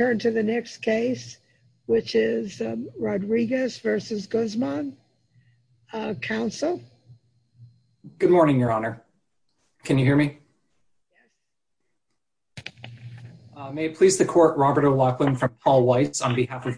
Rodriguez v. Guzman Robert O'Loughlin Paul Weitz. Unfortunately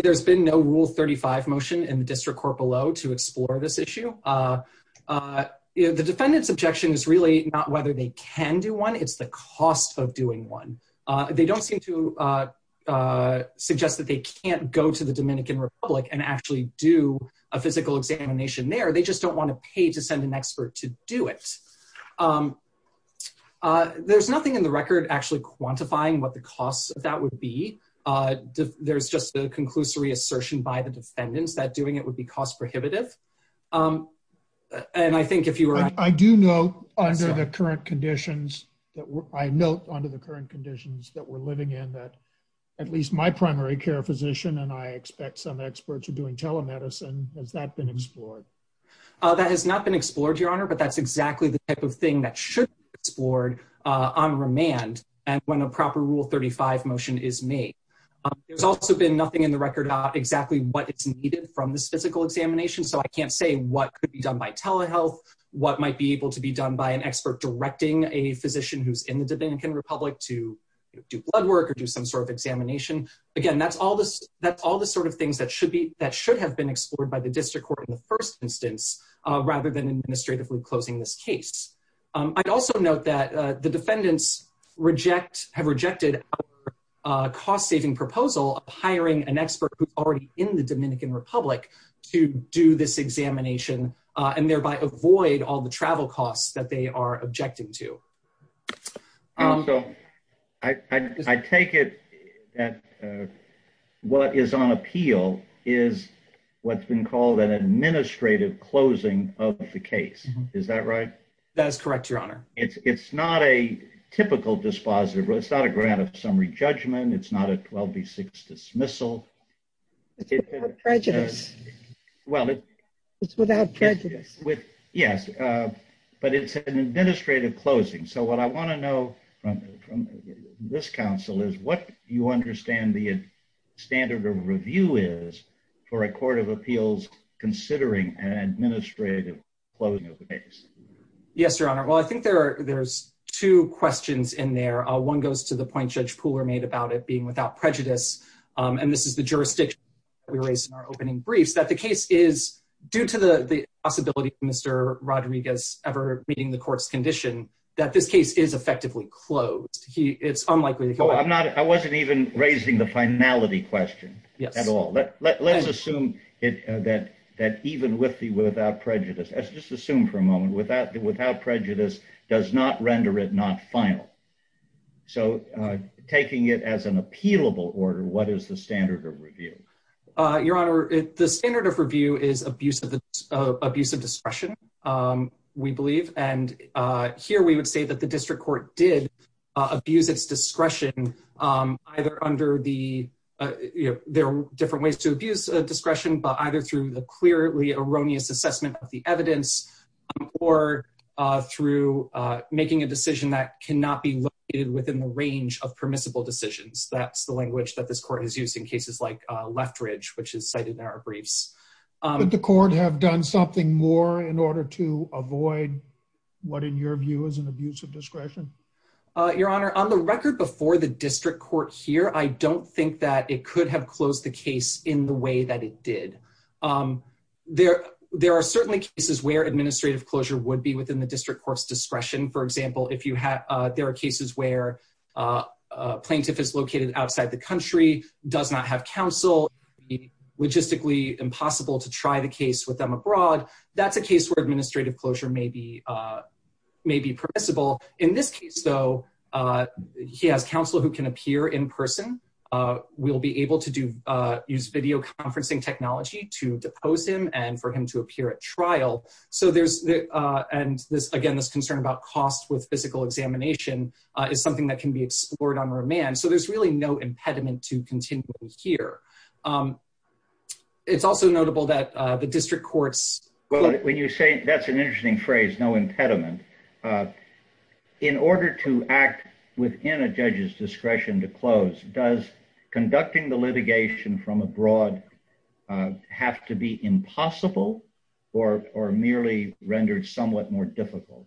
there has been no rule 35 motion in the district court below to explore this issue. The defendant's objection is really not whether they can do one. It's the cost of doing one. They don't seem to suggest that they can't go to the Dominican Republic and actually do a physical examination there. They just don't want to pay to send an expert to do it. There's nothing in the record actually quantifying what the cost of that would be. There's just a conclusory assertion by the defendants that doing it would be cost prohibitive. And I think if you were I do know under the current conditions that I note under the current conditions that we're living in that at least my primary care physician and I expect some experts are doing telemedicine. That has not been explored, Your Honor, but that's exactly the type of thing that should be explored on remand when a proper rule 35 motion is made. There's also been nothing in the record about exactly what is needed from this physical examination. So I can't say what could be done by telehealth, what might be able to be done by an expert directing a physician who's in the Dominican Republic to do blood work or do some sort of examination. Again, that's all the sort of things that should have been explored by the district court in the first instance rather than administratively closing this case. I'd also note that the defendants have rejected our cost-saving proposal of hiring an expert who's already in the Dominican Republic to do this examination and thereby avoid all the travel costs that they are objecting to. So I take it that what is on appeal is what's been called an administrative closing of the case. Is that right? That is correct, Your Honor. It's not a typical dispositive. It's not a grant of summary judgment. It's not a 12 v. 6 dismissal. It's without prejudice. Well, it's It's without prejudice. Yes, but it's an administrative closing. So what I want to know from this counsel is what you understand the standard of review is for a court of appeals considering an administrative closing of the case. Yes, Your Honor. Well, I think there's two questions in there. One goes to the point Judge Pooler made about it being without prejudice. And this is the jurisdiction we raised in our opening briefs, that the case is, due to the possibility of Mr. Rodriguez ever meeting the court's condition, that this case is effectively closed. It's unlikely that he'll ever I wasn't even raising the finality question at all. Let's assume that even with the without prejudice, let's just assume for a moment, without prejudice does not render it not final. So taking it as an appealable order, what is the standard of review? Your Honor, the standard of review is abuse of discretion, we believe. And here we would say that the district court did abuse its discretion, either under the There are different ways to abuse discretion, but either through the clearly erroneous assessment of the evidence or through making a decision that cannot be located within the range of permissible decisions. That's the language that this court has used in cases like Leftridge, which is cited in our briefs. Could the court have done something more in order to avoid what, in your view, is an abuse of discretion? Your Honor, on the record before the district court here, I don't think that it could have closed the case in the way that it did. There are certainly cases where administrative closure would be within the district court's discretion. For example, if you have, there are cases where a plaintiff is located outside the country, does not have counsel, it would be logistically impossible to try the case with them abroad. That's a case where administrative closure may be permissible. In this case, though, he has counsel who can appear in person. We'll be able to use video conferencing technology to depose him and for him to appear at trial. So there's Again, this concern about cost with physical examination is something that can be explored on remand. So there's really no impediment to continuing here. It's also notable that the district court's Well, when you say that's an interesting phrase, no impediment. In order to act within a judge's discretion to close, does conducting the litigation from abroad have to be impossible or merely rendered somewhat more difficult?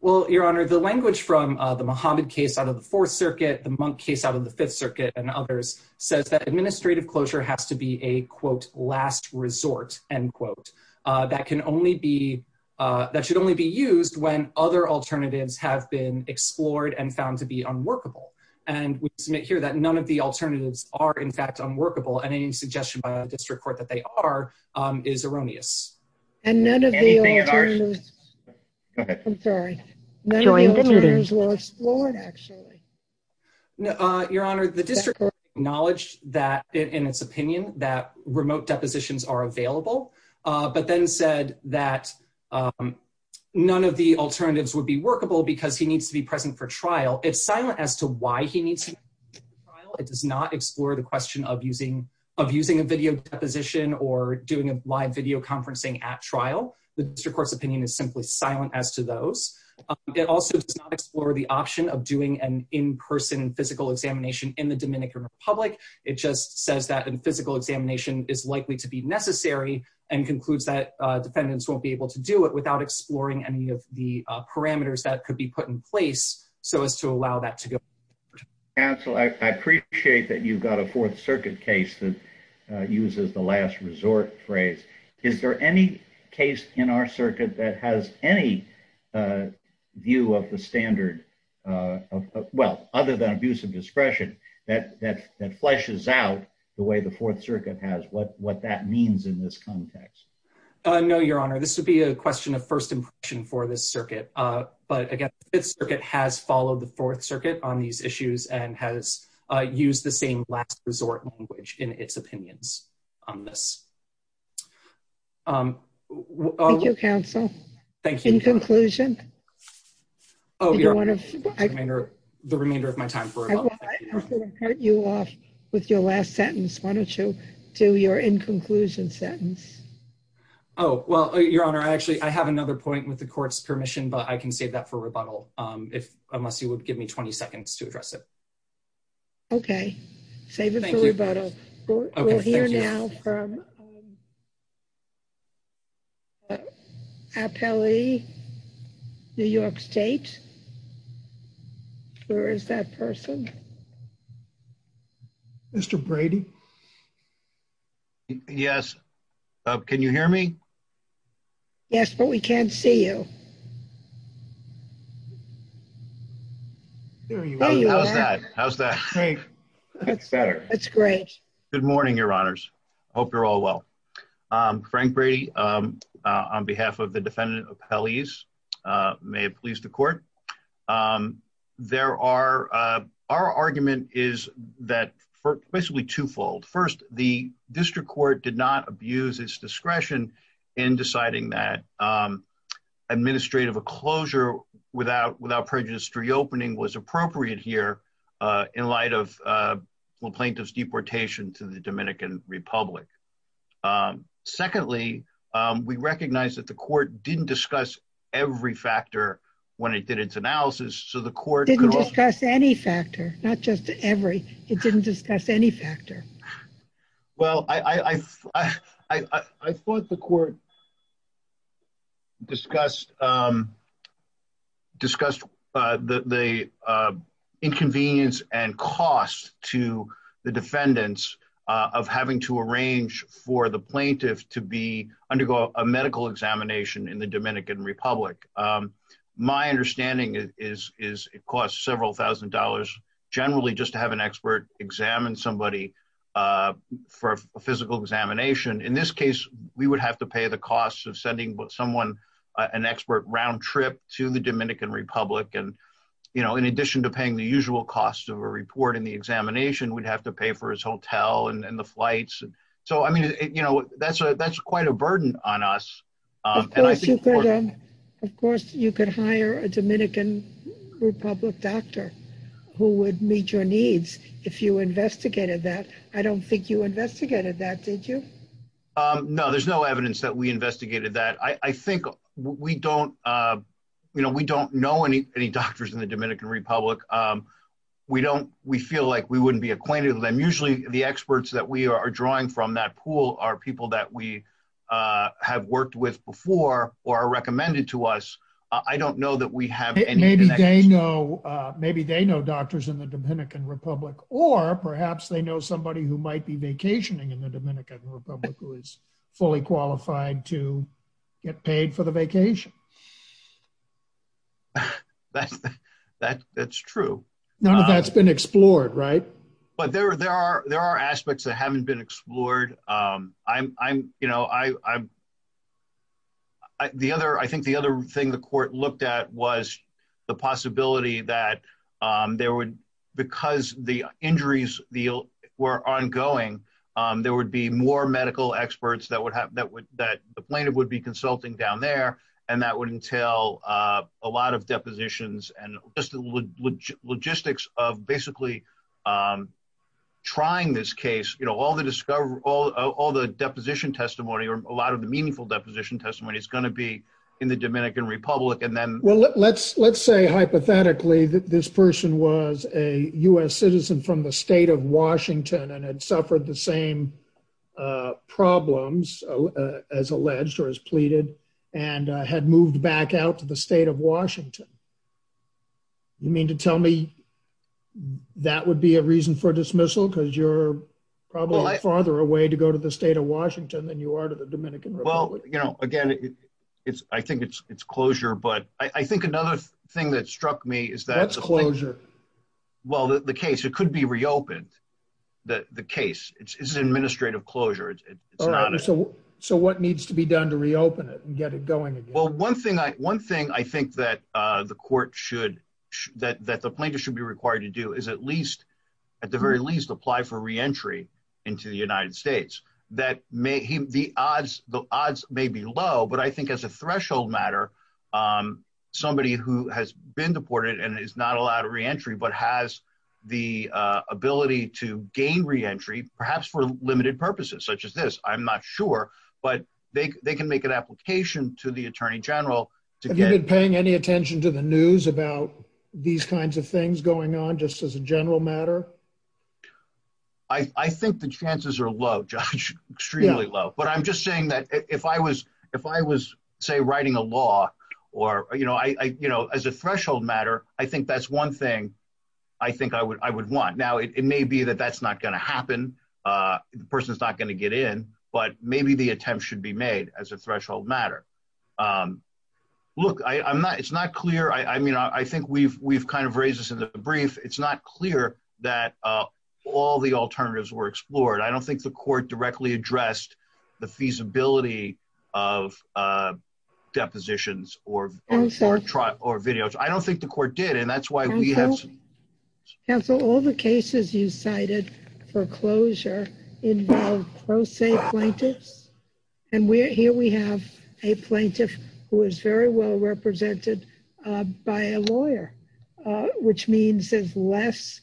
Well, Your Honor, the language from the Mohammed case out of the Fourth Circuit, the Monk case out of the Fifth Circuit, and others says that administrative closure has to be a, quote, last resort, end quote. That can only be, that should only be used when other alternatives have been explored and found to be unworkable. And we submit here that none of the alternatives are in fact unworkable and any suggestion by the district court that they are is erroneous. And none of the alternatives I'm sorry. None of the alternatives were explored, actually. Your Honor, the district court acknowledged that in its opinion that remote depositions are available, but then said that None of the alternatives would be workable because he needs to be present for trial. It's silent as to why he needs to be present for trial. It does not explore the question of using, of using a video deposition or doing a live video conferencing at trial. The district court's opinion is simply silent as to those. It also does not explore the option of doing an in-person physical examination in the Dominican Republic. It just says that a physical examination is likely to be necessary and concludes that defendants won't be able to do it without exploring any of the parameters that could be put in place so as to allow that to go. Counsel, I appreciate that you've got a Fourth Circuit case that uses the last resort phrase. Is there any case in our circuit that has any View of the standard Well, other than abuse of discretion that that that fleshes out the way the Fourth Circuit has what what that means in this context. No, Your Honor. This would be a question of first impression for this circuit. But again, it's circuit has followed the Fourth Circuit on these issues and has used the same last resort language in its opinions on this. Your counsel. Thank you. In conclusion, Oh, you're Under the remainder of my time for You off with your last sentence. Why don't you do your in conclusion sentence. Oh, well, Your Honor. I actually I have another point with the court's permission, but I can save that for rebuttal if unless you would give me 20 seconds to address it. Okay, save it for rebuttal. Appellee New York State Where is that person. Mr. Brady. Yes. Can you hear me. Yes, but we can't see you. How's that That's great. Good morning, Your Honors. Hope you're all well. Frank Brady on behalf of the defendant appellees may please the court. There are our argument is that for basically twofold. First, the district court did not abuse its discretion in deciding that Administrative a closure without without prejudiced reopening was appropriate here in light of plaintiff's deportation to the Dominican Republic. Secondly, we recognize that the court didn't discuss every factor when it did its analysis. So the court. Any factor, not just every it didn't discuss any factor. Well, I Thought the court. Discussed Discussed the inconvenience and cost to the defendants of having to arrange for the plaintiff to be undergo a medical examination in the Dominican Republic. My understanding is is it costs several thousand dollars generally just to have an expert examine somebody For a physical examination. In this case, we would have to pay the cost of sending someone an expert round trip to the Dominican Republic and You know, in addition to paying the usual cost of a report in the examination, we'd have to pay for his hotel and the flights. So, I mean, you know, that's a that's quite a burden on us. Of course, you could hire a Dominican Republic doctor who would meet your needs. If you investigated that I don't think you investigated that. Did you Know, there's no evidence that we investigated that I think we don't, you know, we don't know any any doctors in the Dominican Republic. We don't, we feel like we wouldn't be acquainted with them. Usually the experts that we are drawing from that pool are people that we have worked with before or are recommended to us. I don't know that we have Maybe they know maybe they know doctors in the Dominican Republic, or perhaps they know somebody who might be vacationing in the Dominican Republic, who is fully qualified to get paid for the vacation. That that's true. None of that's been explored. Right. But there, there are there are aspects that haven't been explored. I'm, you know, I The other. I think the other thing the court looked at was the possibility that there would because the injuries deal were ongoing. There would be more medical experts that would have that would that the plaintiff would be consulting down there and that would entail a lot of depositions and just the logistics of basically Trying this case, you know, all the discover all the deposition testimony or a lot of the meaningful deposition testimony is going to be in the Dominican Republic and then Well, let's, let's say hypothetically that this person was a US citizen from the state of Washington and had suffered the same Problems as alleged or as pleaded and had moved back out to the state of Washington. You mean to tell me that would be a reason for dismissal because you're probably farther away to go to the state of Washington, then you are to the Dominican Republic. You know, again, it's I think it's it's closure, but I think another thing that struck me is that Closure. Well, the case, it could be reopened that the case is administrative closure. So, so what needs to be done to reopen it and get it going. Well, one thing I one thing I think that the court should that that the plaintiff should be required to do is at least At the very least, apply for reentry into the United States that may the odds. The odds may be low, but I think as a threshold matter. Somebody who has been deported and is not allowed to reentry but has the ability to gain reentry, perhaps for limited purposes, such as this. I'm not sure, but they can make an application to the Attorney General. Have you been paying any attention to the news about these kinds of things going on, just as a general matter. I think the chances are low judge extremely low, but I'm just saying that if I was if I was say writing a law or, you know, I, you know, as a threshold matter. I think that's one thing. I think I would, I would want. Now, it may be that that's not going to happen. The person is not going to get in, but maybe the attempt should be made as a threshold matter. Look, I'm not. It's not clear. I mean, I think we've we've kind of raises in the brief. It's not clear that all the alternatives were explored. I don't think the court directly addressed the feasibility of Depositions or Try or videos. I don't think the court did. And that's why we have Council all the cases you cited foreclosure in And we're here we have a plaintiff, who is very well represented by a lawyer, which means there's less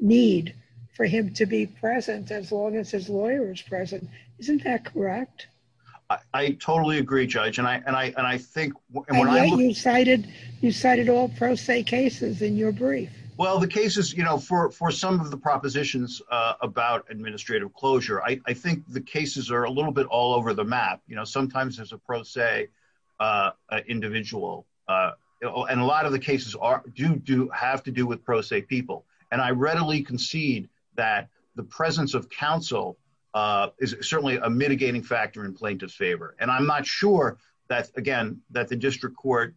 Need for him to be present as long as his lawyers present. Isn't that correct. I totally agree. Judge and I and I and I think You cited you cited all pro se cases in your brief. Well, the cases you know for for some of the propositions about administrative closure. I think the cases are a little bit all over the map. You know, sometimes there's a pro se Individual and a lot of the cases are do do have to do with pro se people and I readily concede that the presence of counsel. Is certainly a mitigating factor in plaintiff's favor, and I'm not sure that again that the district court.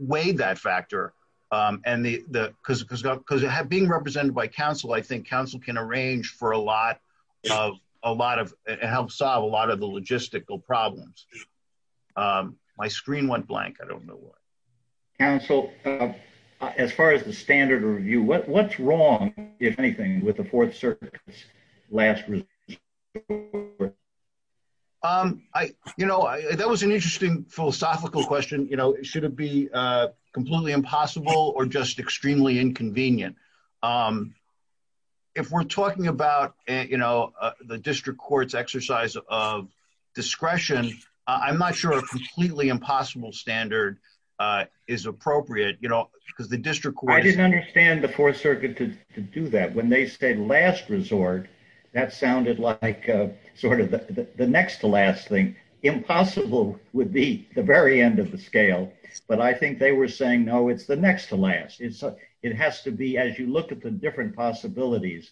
Weigh that factor and the because because because it had being represented by Council. I think Council can arrange for a lot of a lot of help solve a lot of the logistical problems. My screen went blank. I don't know what As far as the standard review what what's wrong, if anything, with the Fourth Circuit last Um, I, you know, that was an interesting philosophical question, you know, should it be completely impossible or just extremely inconvenient. If we're talking about, you know, the district courts exercise of discretion. I'm not sure completely impossible standard is appropriate, you know, because the district court. I didn't understand the Fourth Circuit to do that when they say last resort that sounded like sort of the next to last thing impossible would be the very end of the scale. But I think they were saying, no, it's the next to last. It's, it has to be as you look at the different possibilities.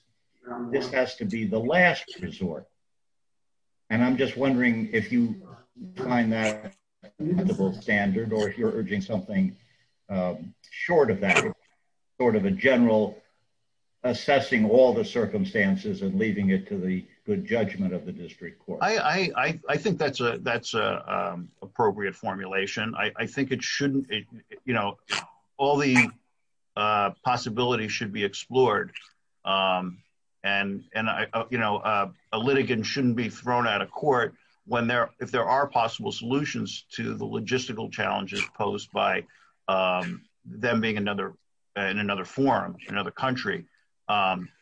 This has to be the last resort. And I'm just wondering if you find that Standard or you're urging something Short of that sort of a general assessing all the circumstances and leaving it to the good judgment of the district court. I think that's a that's a appropriate formulation. I think it shouldn't, you know, all the Possibility should be explored. And and I, you know, a litigant shouldn't be thrown out of court when they're if there are possible solutions to the logistical challenges posed by Them being another in another forum and other country,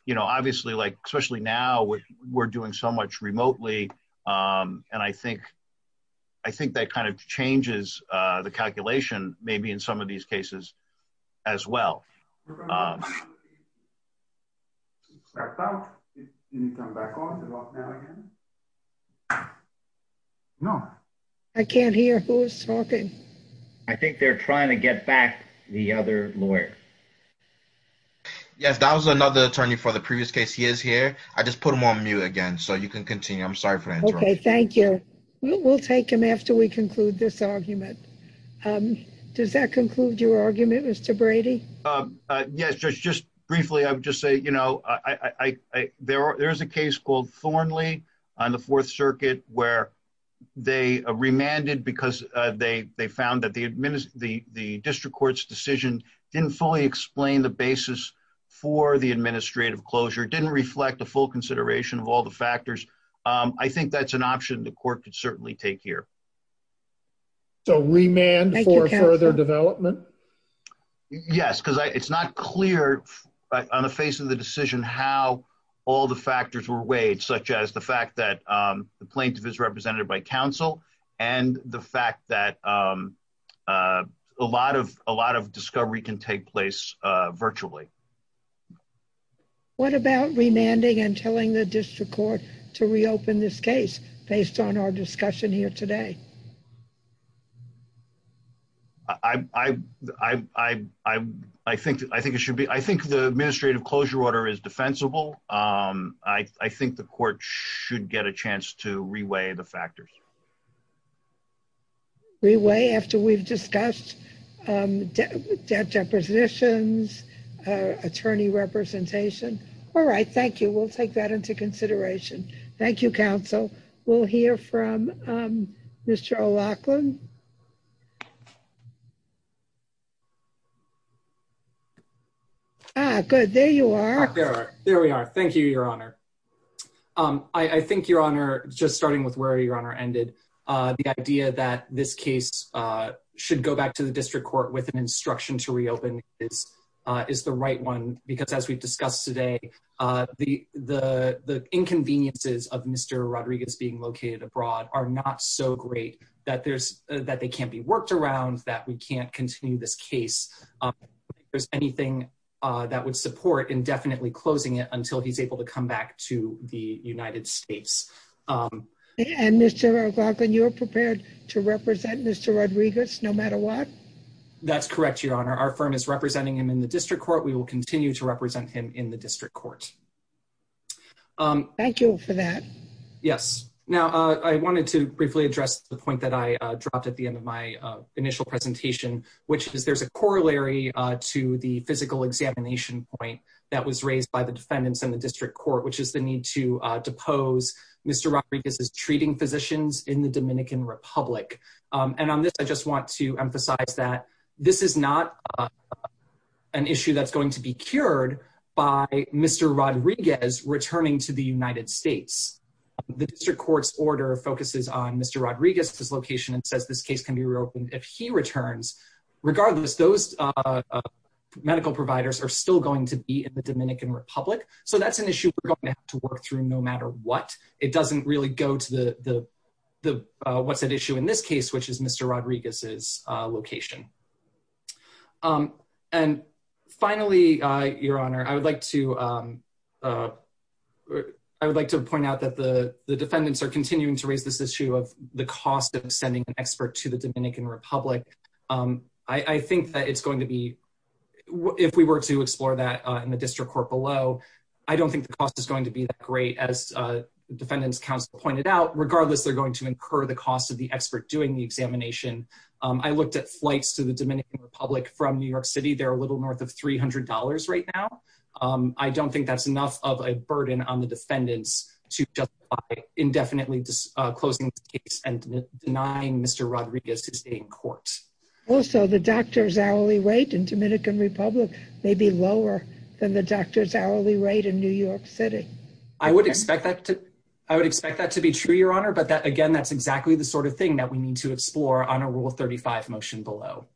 you know, obviously, like, especially now we're doing so much remotely. And I think, I think that kind of changes the calculation, maybe in some of these cases as well. About No, I can't hear who's talking. I think they're trying to get back the other lawyer. Yes, that was another attorney for the previous case. He is here. I just put them on mute again so you can continue. I'm sorry for that. Okay, thank you. We'll take him after we conclude this argument. Does that conclude your argument, Mr. Brady. Yes, just, just briefly, I would just say, you know, I, there are, there's a case called Thornley on the Fourth Circuit, where They remanded because they they found that the administer the the district court's decision didn't fully explain the basis for the administrative closure didn't reflect the full consideration of all the factors. I think that's an option to court could certainly take here. So remand for further development. Yes, because it's not clear on the face of the decision how all the factors were weighed, such as the fact that the plaintiff is represented by counsel and the fact that A lot of a lot of discovery can take place virtually What about remanding and telling the district court to reopen this case based on our discussion here today. I, I, I, I, I think, I think it should be. I think the administrative closure order is defensible. I think the court should get a chance to reweigh the factors. We weigh after we've discussed Depositions attorney representation. All right. Thank you. We'll take that into consideration. Thank you. Council will hear from Mr. Lachlan Good. There you are. There we are. Thank you, Your Honor. I think, Your Honor, just starting with where your honor ended the idea that this case should go back to the district court with an instruction to reopen is Is the right one, because as we've discussed today, the, the, the inconveniences of Mr. Rodriguez being located abroad are not so great that there's that they can't be worked around that we can't continue this case. There's anything that would support indefinitely closing it until he's able to come back to the United States. And Mr. Lachlan, you're prepared to represent Mr. Rodriguez, no matter what. That's correct, Your Honor. Our firm is representing him in the district court. We will continue to represent him in the district court. Thank you for that. Yes. Now I wanted to briefly address the point that I dropped at the end of my initial presentation, which is there's a corollary to the physical examination point. That was raised by the defendants in the district court, which is the need to depose Mr. Rodriguez is treating physicians in the Dominican Republic. And on this, I just want to emphasize that this is not An issue that's going to be cured by Mr. Rodriguez returning to the United States. The district court's order focuses on Mr. Rodriguez's location and says this case can be reopened if he returns. Regardless, those Medical providers are still going to be in the Dominican Republic. So that's an issue we're going to have to work through no matter what. It doesn't really go to the, the, the, what's at issue in this case, which is Mr. Rodriguez's location. And finally, Your Honor, I would like to I would like to point out that the defendants are continuing to raise this issue of the cost of sending an expert to the Dominican Republic. I think that it's going to be if we were to explore that in the district court below. I don't think the cost is going to be that great as Defendants Council pointed out, regardless, they're going to incur the cost of the expert doing the examination. I looked at flights to the Dominican Republic from New York City. They're a little north of $300 right now. I don't think that's enough of a burden on the defendants to just indefinitely closing the case and denying Mr. Rodriguez to stay in court. Also, the doctor's hourly rate in Dominican Republic may be lower than the doctor's hourly rate in New York City. I would expect that to, I would expect that to be true, Your Honor, but that, again, that's exactly the sort of thing that we need to explore on a rule 35 motion below.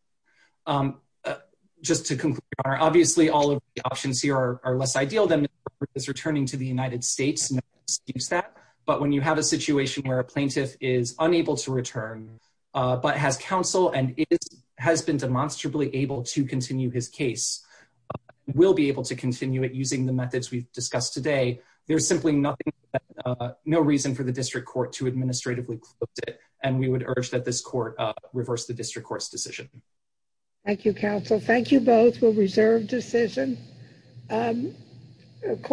Just to conclude, Your Honor, obviously all of the options here are less ideal than Mr. Rodriguez returning to the United States. No one disputes that. But when you have a situation where a plaintiff is unable to return, but has counsel and has been demonstrably able to continue his case, will be able to continue it using the methods we've discussed today, there's simply nothing, no reason for the district court to administratively close it. And we would urge that this court reverse the district court's decision. Thank you, counsel. Thank you both. We'll reserve decision.